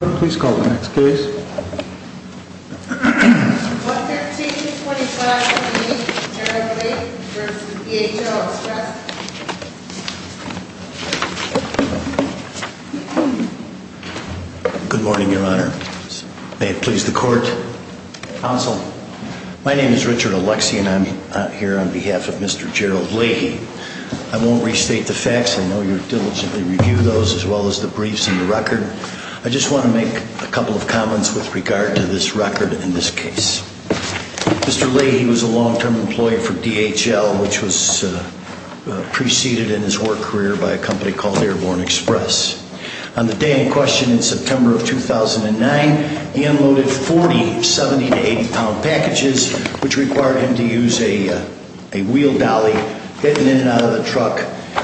Please call the next case. 11325 v. Gerald Leahy v. D.H.O. Express Good morning, Your Honor. May it please the Court. Counsel. My name is Richard Alexey and I'm here on behalf of Mr. Gerald Leahy. I won't restate the facts. I know you diligently review those as well as the briefs and the record. I just want to make a couple of comments with regard to this record and this case. Mr. Leahy was a long-term employee for D.H.L., which was preceded in his work career by a company called Airborne Express. On the day in question, in September of 2009, he unloaded 40 70- to 80-pound packages, which required him to use a wheel dolly hidden in and out of the truck.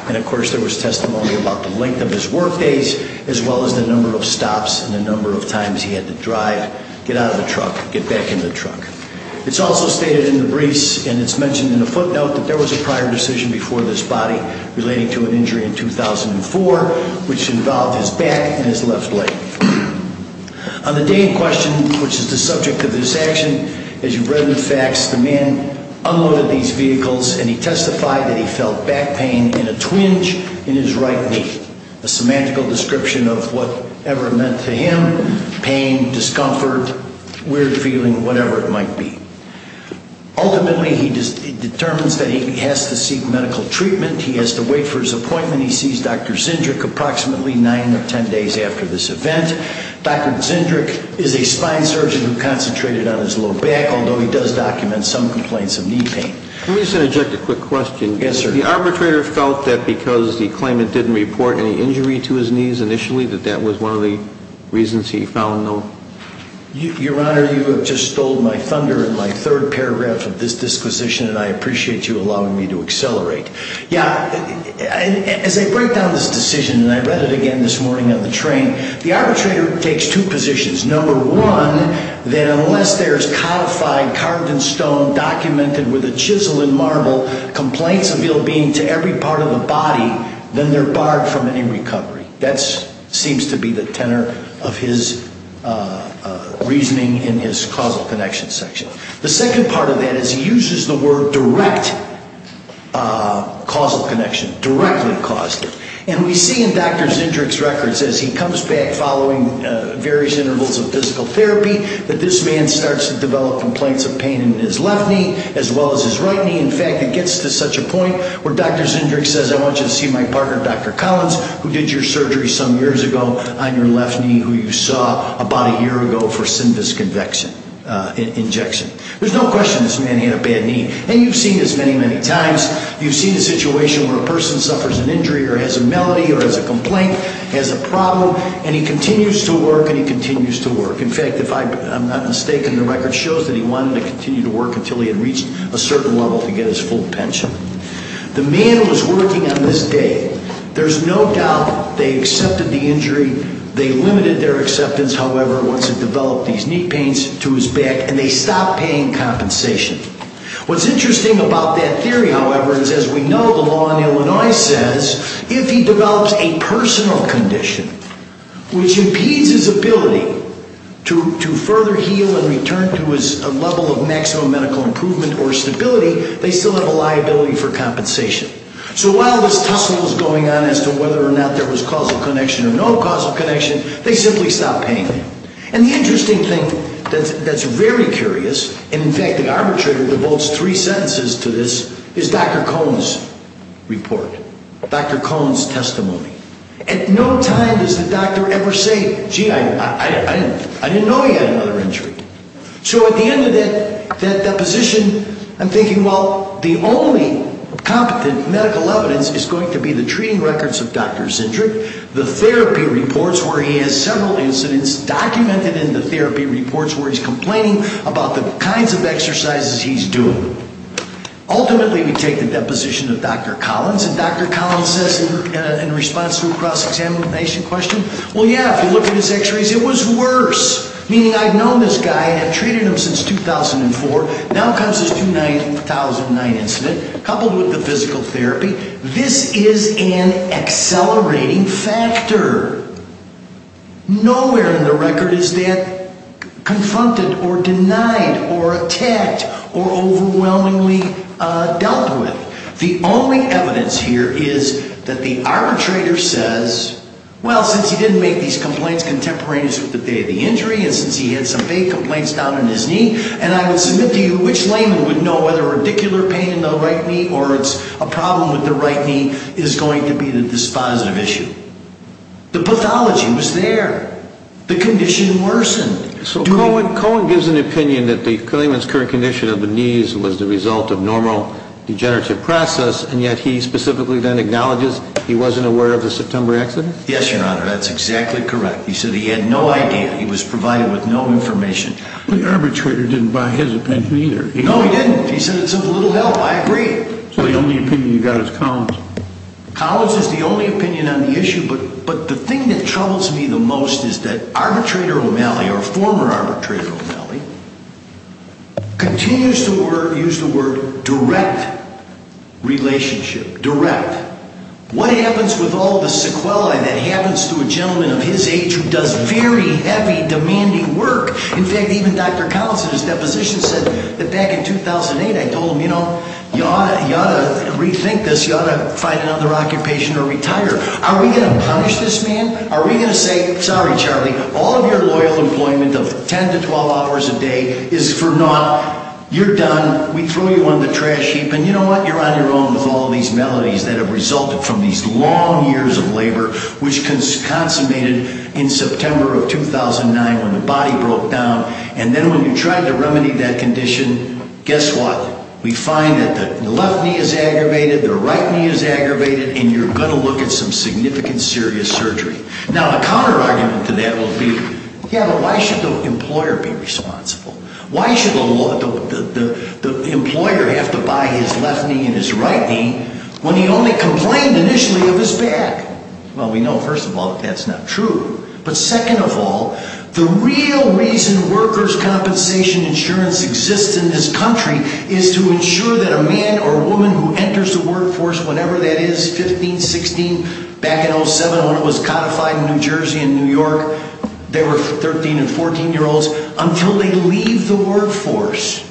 And, of course, there was testimony about the length of his work days, as well as the number of stops and the number of times he had to drive, get out of the truck, get back in the truck. It's also stated in the briefs and it's mentioned in the footnote that there was a prior decision before this body relating to an injury in 2004, which involved his back and his left leg. On the day in question, which is the subject of this action, as you've read in the facts, the man unloaded these vehicles and he testified that he felt back pain in a twinge in his right knee, a semantical description of whatever meant to him pain, discomfort, weird feeling, whatever it might be. Ultimately, he determines that he has to seek medical treatment. He has to wait for his appointment. He sees Dr. Zindrick approximately nine or ten days after this event. Dr. Zindrick is a spine surgeon who concentrated on his low back, although he does document some complaints of knee pain. Let me just interject a quick question. Yes, sir. The arbitrator felt that because he claimed it didn't report any injury to his knees initially, that that was one of the reasons he found them? Your Honor, you have just stole my thunder in my third paragraph of this disquisition, and I appreciate you allowing me to accelerate. Yeah, as I break down this decision, and I read it again this morning on the train, the arbitrator takes two positions. Number one, that unless there is codified, carved in stone, documented with a chisel and marble, complaints of ill-being to every part of the body, then they're barred from any recovery. That seems to be the tenor of his reasoning in his causal connection section. The second part of that is he uses the word direct causal connection, directly caused it. And we see in Dr. Zindrick's records, as he comes back following various intervals of physical therapy, that this man starts to develop complaints of pain in his left knee as well as his right knee. In fact, it gets to such a point where Dr. Zindrick says, I want you to see my partner, Dr. Collins, who did your surgery some years ago on your left knee, who you saw about a year ago for synvis injection. There's no question this man had a bad knee. And you've seen this many, many times. You've seen a situation where a person suffers an injury or has a malady or has a complaint, has a problem, and he continues to work and he continues to work. In fact, if I'm not mistaken, the record shows that he wanted to continue to work until he had reached a certain level to get his full pension. The man was working on this day. There's no doubt they accepted the injury. They limited their acceptance, however, once it developed these knee pains to his back, and they stopped paying compensation. What's interesting about that theory, however, is as we know, the law in Illinois says if he develops a personal condition which impedes his ability to further heal and return to his level of maximum medical improvement or stability, they still have a liability for compensation. So while this tussle is going on as to whether or not there was causal connection or no causal connection, they simply stopped paying him. And the interesting thing that's very curious, and in fact the arbitrator devotes three sentences to this, is Dr. Cohn's report, Dr. Cohn's testimony. At no time does the doctor ever say, gee, I didn't know he had another injury. So at the end of that deposition, I'm thinking, well, the only competent medical evidence is going to be the treating records of Dr. Zindrig, the therapy reports where he has several incidents documented, and the therapy reports where he's complaining about the kinds of exercises he's doing. Ultimately, we take the deposition of Dr. Collins, and Dr. Collins says in response to a cross-examination question, well, yeah, if you look at his x-rays, it was worse, meaning I've known this guy and treated him since 2004. Now comes this 2009 incident. Coupled with the physical therapy, this is an accelerating factor. Nowhere in the record is that confronted or denied or attacked or overwhelmingly dealt with. The only evidence here is that the arbitrator says, well, since he didn't make these complaints contemporaneous with the day of the injury and since he had some vague complaints down in his knee, and I would submit to you which layman would know whether radicular pain in the right knee or it's a problem with the right knee is going to be this positive issue. The pathology was there. The condition worsened. So Cohen gives an opinion that the layman's current condition of the knees was the result of normal degenerative process, and yet he specifically then acknowledges he wasn't aware of the September accident? Yes, Your Honor, that's exactly correct. He said he had no idea. He was provided with no information. The arbitrator didn't buy his opinion either. No, he didn't. He said it's of little help. I agree. So the only opinion you've got is Collins? Collins is the only opinion on the issue, but the thing that troubles me the most is that arbitrator O'Malley or former arbitrator O'Malley continues to use the word direct relationship, direct. What happens with all the sequelae that happens to a gentleman of his age who does very heavy, demanding work? In fact, even Dr. Collins in his deposition said that back in 2008, I told him, you know, you ought to rethink this. You ought to find another occupation or retire. Are we going to punish this man? Are we going to say, sorry, Charlie, all of your loyal employment of 10 to 12 hours a day is for naught. You're done. We throw you on the trash heap. And you know what? You're on your own with all these maladies that have resulted from these long years of labor which consummated in September of 2009 when the body broke down. And then when you tried to remedy that condition, guess what? We find that the left knee is aggravated, the right knee is aggravated, and you're going to look at some significant serious surgery. Now, a counterargument to that will be, yeah, but why should the employer be responsible? Why should the employer have to buy his left knee and his right knee when he only complained initially of his back? Well, we know first of all that that's not true. But second of all, the real reason workers' compensation insurance exists in this country is to ensure that a man or woman who enters the workforce whenever that is, 15, 16, back in 07 when it was codified in New Jersey and New York, there were 13 and 14-year-olds, until they leave the workforce,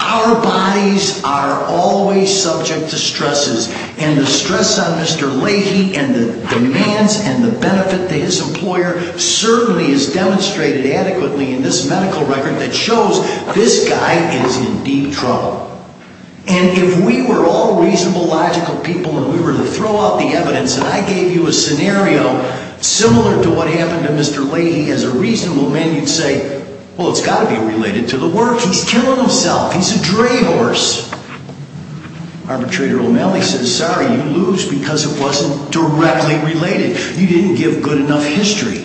our bodies are always subject to stresses. And the stress on Mr. Leahy and the demands and the benefit to his employer certainly is demonstrated adequately in this medical record that shows this guy is in deep trouble. And if we were all reasonable, logical people and we were to throw out the evidence, and I gave you a scenario similar to what happened to Mr. Leahy as a reasonable man, you'd say, well, it's got to be related to the work. He's killing himself. He's a dray horse. Arbitrator O'Malley says, sorry, you lose because it wasn't directly related. You didn't give good enough history.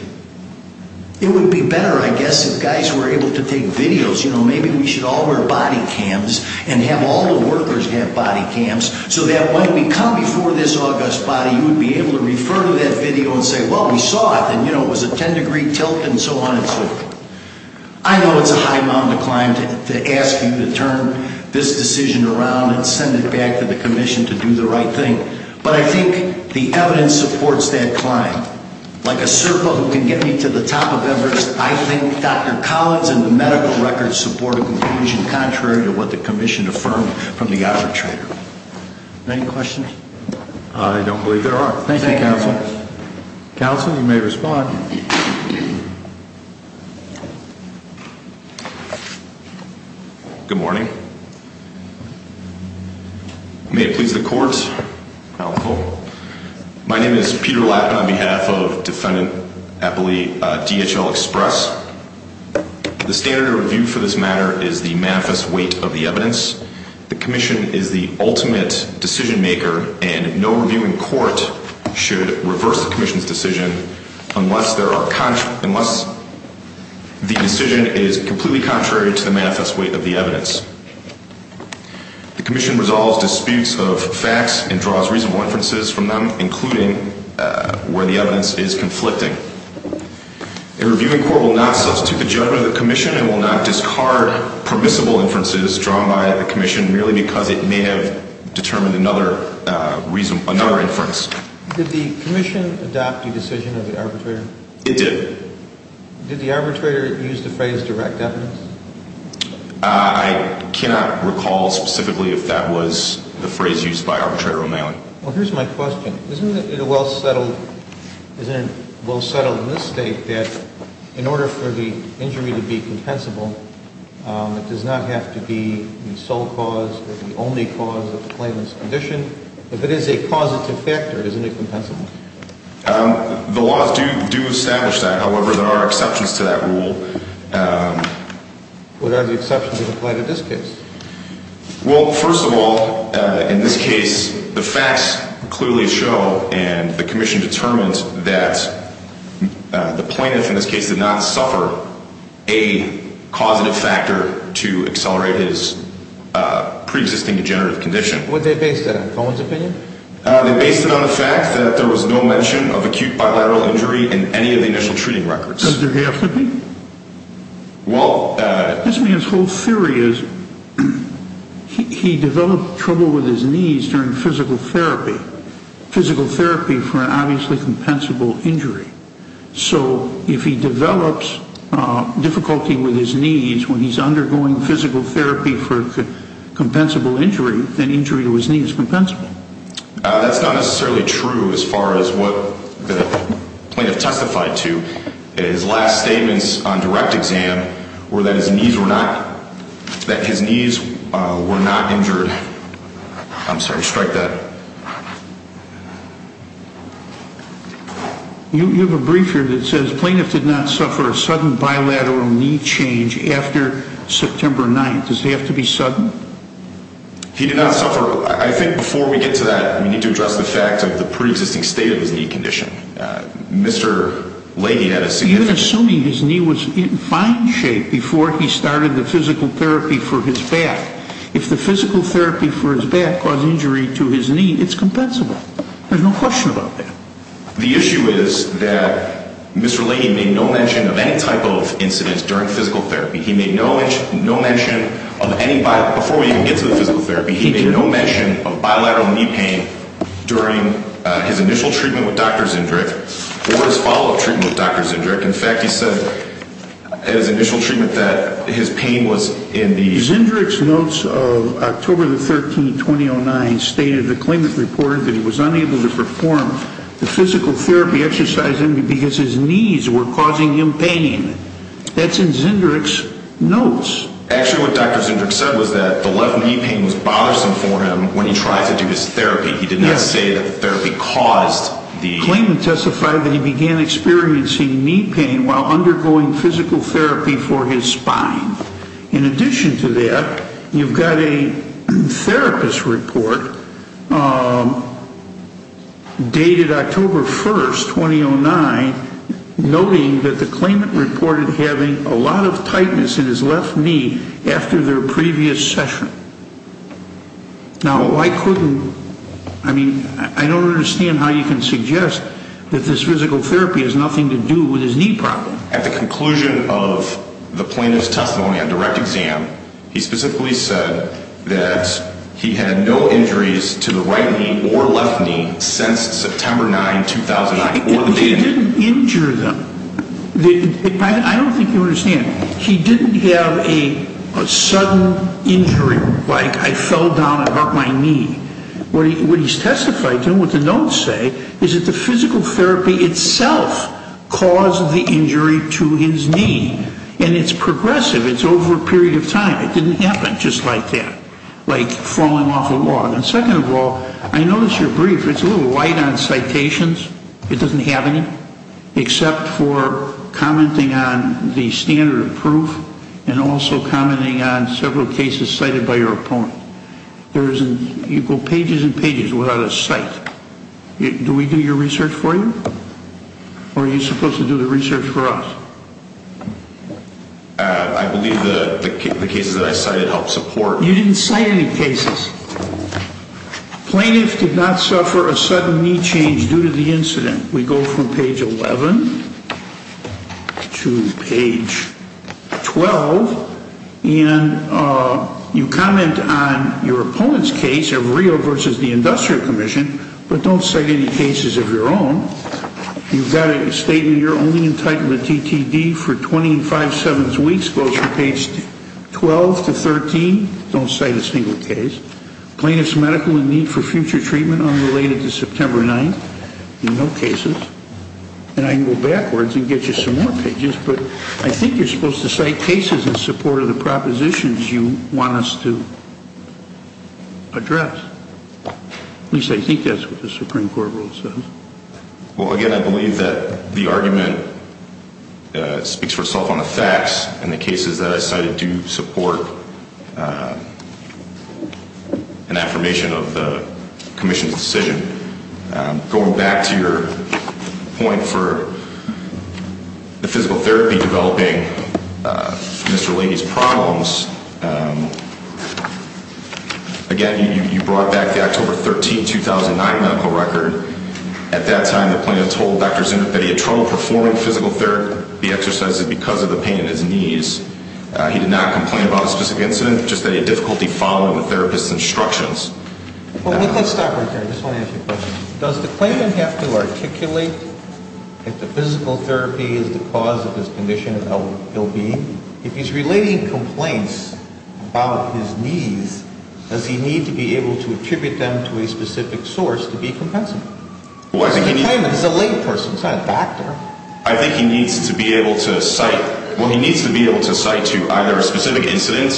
It would be better, I guess, if guys were able to take videos. You know, maybe we should all wear body cams and have all the workers have body cams so that when we come before this august body, you would be able to refer to that video and say, well, we saw it, and, you know, it was a 10-degree tilt and so on and so forth. I know it's a high mountain to climb to ask you to turn this decision around and send it back to the commission to do the right thing. But I think the evidence supports that climb. Like a serpa who can get me to the top of Everest, I think Dr. Collins and the medical record support a conclusion contrary to what the commission affirmed from the arbitrator. Any questions? I don't believe there are. Thank you, Counsel. Counsel, you may respond. Good morning. May it please the court. My name is Peter Lappin on behalf of Defendant Appley DHL Express. The standard of review for this matter is the manifest weight of the evidence. The commission is the ultimate decision maker, and no review in court should reverse the commission's decision unless the decision is completely contrary to the manifest weight of the evidence. The commission resolves disputes of facts and draws reasonable inferences from them, including where the evidence is conflicting. A review in court will not substitute the judgment of the commission and will not discard permissible inferences drawn by the commission merely because it may have determined another inference. Did the commission adopt the decision of the arbitrator? It did. Did the arbitrator use the phrase direct evidence? I cannot recall specifically if that was the phrase used by Arbitrator O'Malley. Well, here's my question. Isn't it a well-settled mistake that in order for the injury to be compensable, it does not have to be the sole cause or the only cause of the claimant's condition? If it is a causative factor, isn't it compensable? The laws do establish that. However, there are exceptions to that rule. What are the exceptions that apply to this case? Well, first of all, in this case, the facts clearly show, and the commission determines that the plaintiff in this case did not suffer a causative factor to accelerate his preexisting degenerative condition. What are they based on, Cohen's opinion? They're based on the fact that there was no mention of acute bilateral injury in any of the initial treating records. Does there have to be? Well... This man's whole theory is he developed trouble with his knees during physical therapy, physical therapy for an obviously compensable injury. So if he develops difficulty with his knees when he's undergoing physical therapy for a compensable injury, then injury to his knee is compensable. That's not necessarily true as far as what the plaintiff testified to. His last statements on direct exam were that his knees were not injured. I'm sorry, strike that. You have a brief here that says, He did not suffer a sudden bilateral knee change after September 9th. Does it have to be sudden? He did not suffer. I think before we get to that, we need to address the fact of the preexisting state of his knee condition. Mr. Laney had a significant... You're assuming his knee was in fine shape before he started the physical therapy for his back. If the physical therapy for his back caused injury to his knee, it's compensable. There's no question about that. The issue is that Mr. Laney made no mention of any type of incidents during physical therapy. He made no mention of any bilateral... Before we even get to the physical therapy, he made no mention of bilateral knee pain during his initial treatment with Dr. Zendrick or his follow-up treatment with Dr. Zendrick. In fact, he said at his initial treatment that his pain was in the... because his knees were causing him pain. That's in Zendrick's notes. Actually, what Dr. Zendrick said was that the left knee pain was bothersome for him when he tried to do his therapy. He did not say that the therapy caused the... Claimant testified that he began experiencing knee pain while undergoing physical therapy for his spine. In addition to that, you've got a therapist report dated October 1st, 2009, noting that the claimant reported having a lot of tightness in his left knee after their previous session. Now, why couldn't... I mean, I don't understand how you can suggest that this physical therapy has nothing to do with his knee problem. At the conclusion of the plaintiff's testimony on direct exam, he specifically said that he had no injuries to the right knee or left knee since September 9, 2009. He didn't injure them. I don't think you understand. He didn't have a sudden injury, like I fell down and hurt my knee. What he's testified to and what the notes say is that the physical therapy itself caused the injury to his knee. And it's progressive. It's over a period of time. It didn't happen just like that, like falling off a log. And second of all, I noticed your brief. It's a little light on citations. It doesn't have any, except for commenting on the standard of proof and also commenting on several cases cited by your opponent. You go pages and pages without a cite. Do we do your research for you? Or are you supposed to do the research for us? I believe the cases that I cited help support... You didn't cite any cases. Plaintiff did not suffer a sudden knee change due to the incident. We go from page 11 to page 12. And you comment on your opponent's case of Rio versus the Industrial Commission, but don't cite any cases of your own. You've got a statement, you're only entitled to TTD for 20 and five-sevenths weeks, both from page 12 to 13. Don't cite a single case. Plaintiff's medical in need for future treatment unrelated to September 9th. No cases. And I can go backwards and get you some more pages, but I think you're supposed to cite cases in support of the propositions you want us to address. At least I think that's what the Supreme Court rule says. Well, again, I believe that the argument speaks for itself on the facts, and the cases that I cited do support an affirmation of the Commission's decision. Going back to your point for the physical therapy developing Mr. Leahy's problems, again, you brought back the October 13, 2009 medical record. At that time, the plaintiff told Dr. Zunich that he had trouble performing physical therapy exercises because of the pain in his knees. He did not complain about a specific incident, just that he had difficulty following the therapist's instructions. Well, let's stop right there. I just want to ask you a question. Does the claimant have to articulate if the physical therapy is the cause of his condition of ill-being? If he's relating complaints about his knees, does he need to be able to attribute them to a specific source to be compensated? The claimant is a layperson. He's not a doctor. I think he needs to be able to cite to either a specific incident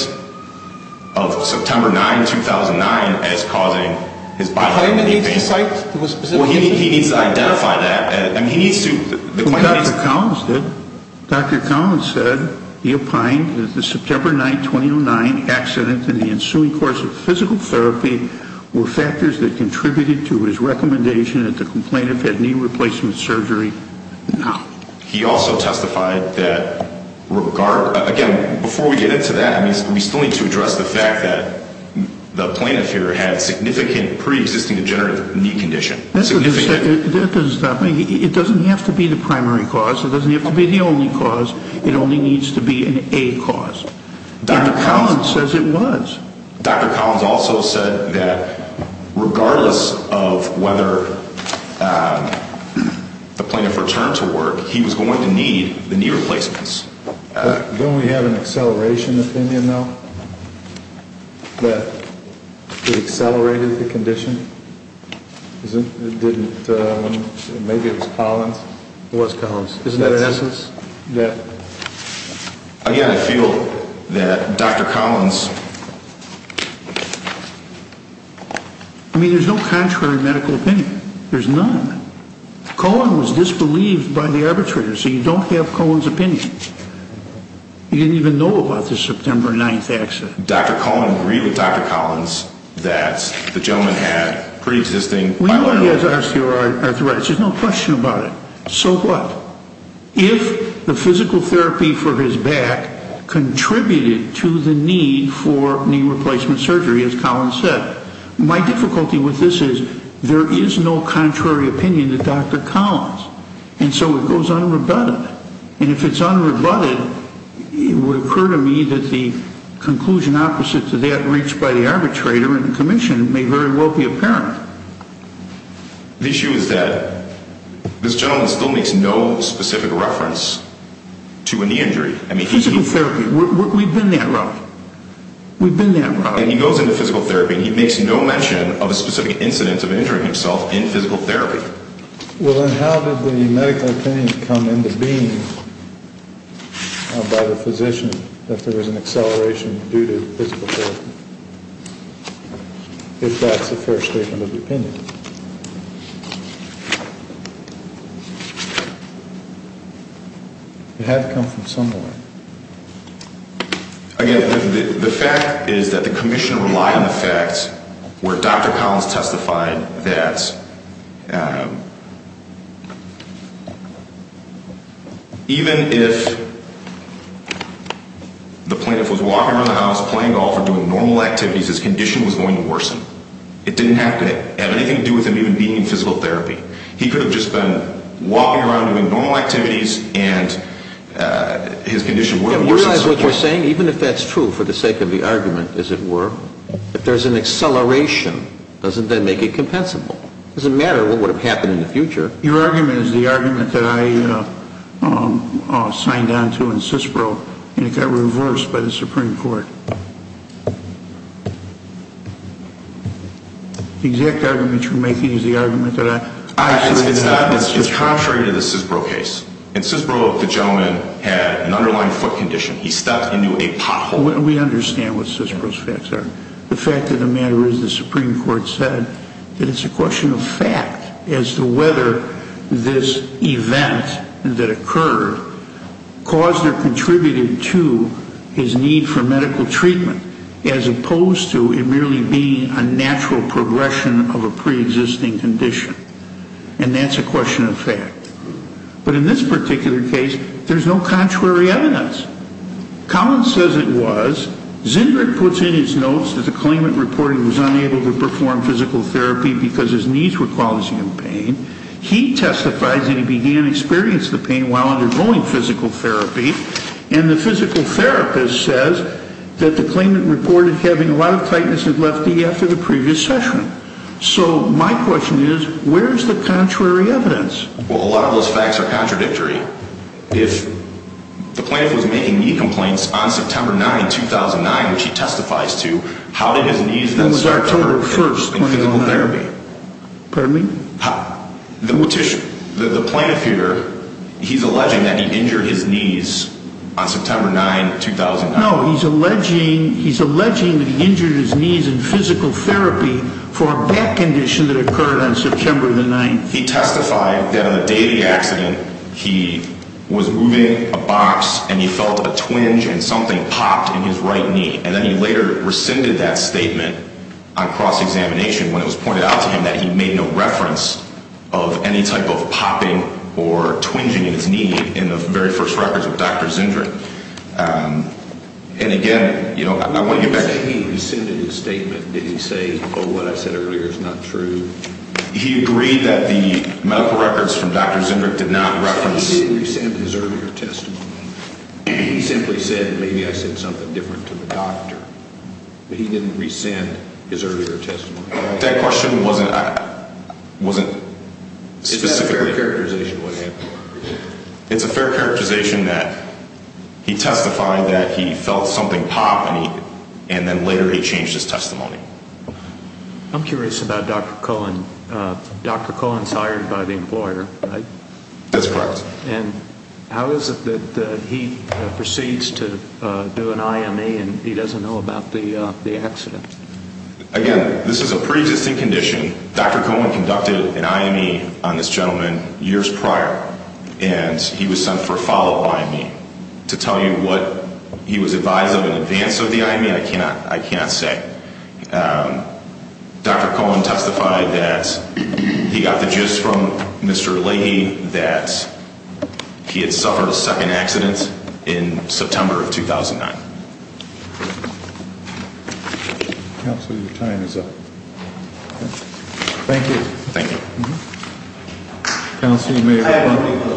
of September 9, 2009, as causing his bodily pain. The claimant needs to cite to a specific incident? He needs to identify that. Dr. Collins did. Dr. Collins said he opined that the September 9, 2009 accident and the ensuing course of physical therapy were factors that contributed to his recommendation that the complainant get knee replacement surgery now. He also testified that, again, before we get into that, we still need to address the fact that the plaintiff here had significant pre-existing degenerative knee condition. That doesn't stop me. It doesn't have to be the primary cause. It doesn't have to be the only cause. It only needs to be an A cause. Dr. Collins says it was. Dr. Collins also said that regardless of whether the plaintiff returned to work, he was going to need the knee replacements. Don't we have an acceleration opinion, though, that he accelerated the condition? Maybe it was Collins? It was Collins. Isn't that an essence? Again, I feel that Dr. Collins... I mean, there's no contrary medical opinion. There's none. Collins was disbelieved by the arbitrator, so you don't have Collins' opinion. He didn't even know about the September 9 accident. Dr. Collins agreed with Dr. Collins that the gentleman had pre-existing... We know he has osteoarthritis. There's no question about it. So what? If the physical therapy for his back contributed to the need for knee replacement surgery, as Collins said, my difficulty with this is there is no contrary opinion to Dr. Collins. And so it goes unrebutted. And if it's unrebutted, it would occur to me that the conclusion opposite to that reached by the arbitrator and the commission may very well be apparent. The issue is that this gentleman still makes no specific reference to a knee injury. Physical therapy. We've been that route. He goes into physical therapy, and he makes no mention of a specific incident of injuring himself in physical therapy. Well, then how did the medical opinion come into being by the physician that there was an acceleration due to physical therapy, if that's a fair statement of the opinion? It had to come from somewhere. Again, the fact is that the commission relied on the facts where Dr. Collins testified that... Even if the plaintiff was walking around the house playing golf or doing normal activities, his condition was going to worsen. It didn't have to have anything to do with him even being in physical therapy. He could have just been walking around doing normal activities, and his condition would have worsened. Do you realize what you're saying? Even if that's true for the sake of the argument, as it were, if there's an acceleration, doesn't that make it compensable? It doesn't matter what would have happened in the future. Your argument is the argument that I signed on to in CISPRO, and it got reversed by the Supreme Court. The exact argument you're making is the argument that I signed on to in CISPRO. It's contrary to the CISPRO case. In CISPRO, the gentleman had an underlying foot condition. He stepped into a pothole. We understand what CISPRO's facts are. The fact of the matter is the Supreme Court said that it's a question of fact as to whether this event that occurred caused or contributed to his need for medical treatment, as opposed to it merely being a natural progression of a preexisting condition. And that's a question of fact. But in this particular case, there's no contrary evidence. Collins says it was. Zindrig puts in his notes that the claimant reported he was unable to perform physical therapy because his knees were causing him pain. He testifies that he began experiencing the pain while undergoing physical therapy. And the physical therapist says that the claimant reported having a lot of tightness in his left knee after the previous session. So my question is, where's the contrary evidence? Well, a lot of those facts are contradictory. If the plaintiff was making knee complaints on September 9, 2009, which he testifies to, how did his knees then start to hurt in physical therapy? Pardon me? The plaintiff here, he's alleging that he injured his knees on September 9, 2009. No, he's alleging that he injured his knees in physical therapy for a back condition that occurred on September the 9th. He testified that on the day of the accident, he was moving a box and he felt a twinge and something popped in his right knee. And then he later rescinded that statement on cross-examination when it was pointed out to him that he made no reference of any type of popping or twinging in his knee in the very first records of Dr. Zindrig. And, again, you know, I want to get back to you. When you say he rescinded his statement, did he say, oh, what I said earlier is not true? He agreed that the medical records from Dr. Zindrig did not reference – And he didn't rescind his earlier testimony. He simply said, maybe I said something different to the doctor. But he didn't rescind his earlier testimony. That question wasn't specifically – Is that a fair characterization of what happened? It's a fair characterization that he testified that he felt something pop and then later he changed his testimony. I'm curious about Dr. Cullen. Dr. Cullen's hired by the employer, right? That's correct. And how is it that he proceeds to do an IME and he doesn't know about the accident? Again, this is a pretty distinct condition. Dr. Cullen conducted an IME on this gentleman years prior and he was sent for a follow-up IME. To tell you what he was advised of in advance of the IME, I cannot say. Dr. Cullen testified that he got the gist from Mr. Leahy that he had suffered a second accident in September of 2009. Counselor, your time is up. Thank you. Thank you. Counselor, you may – I don't believe there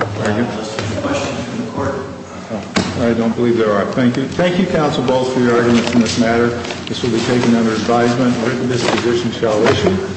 are questions in the court. I don't believe there are. Thank you. Thank you, counsel, both for your arguments in this matter. This will be taken under advisement. This position shall issue.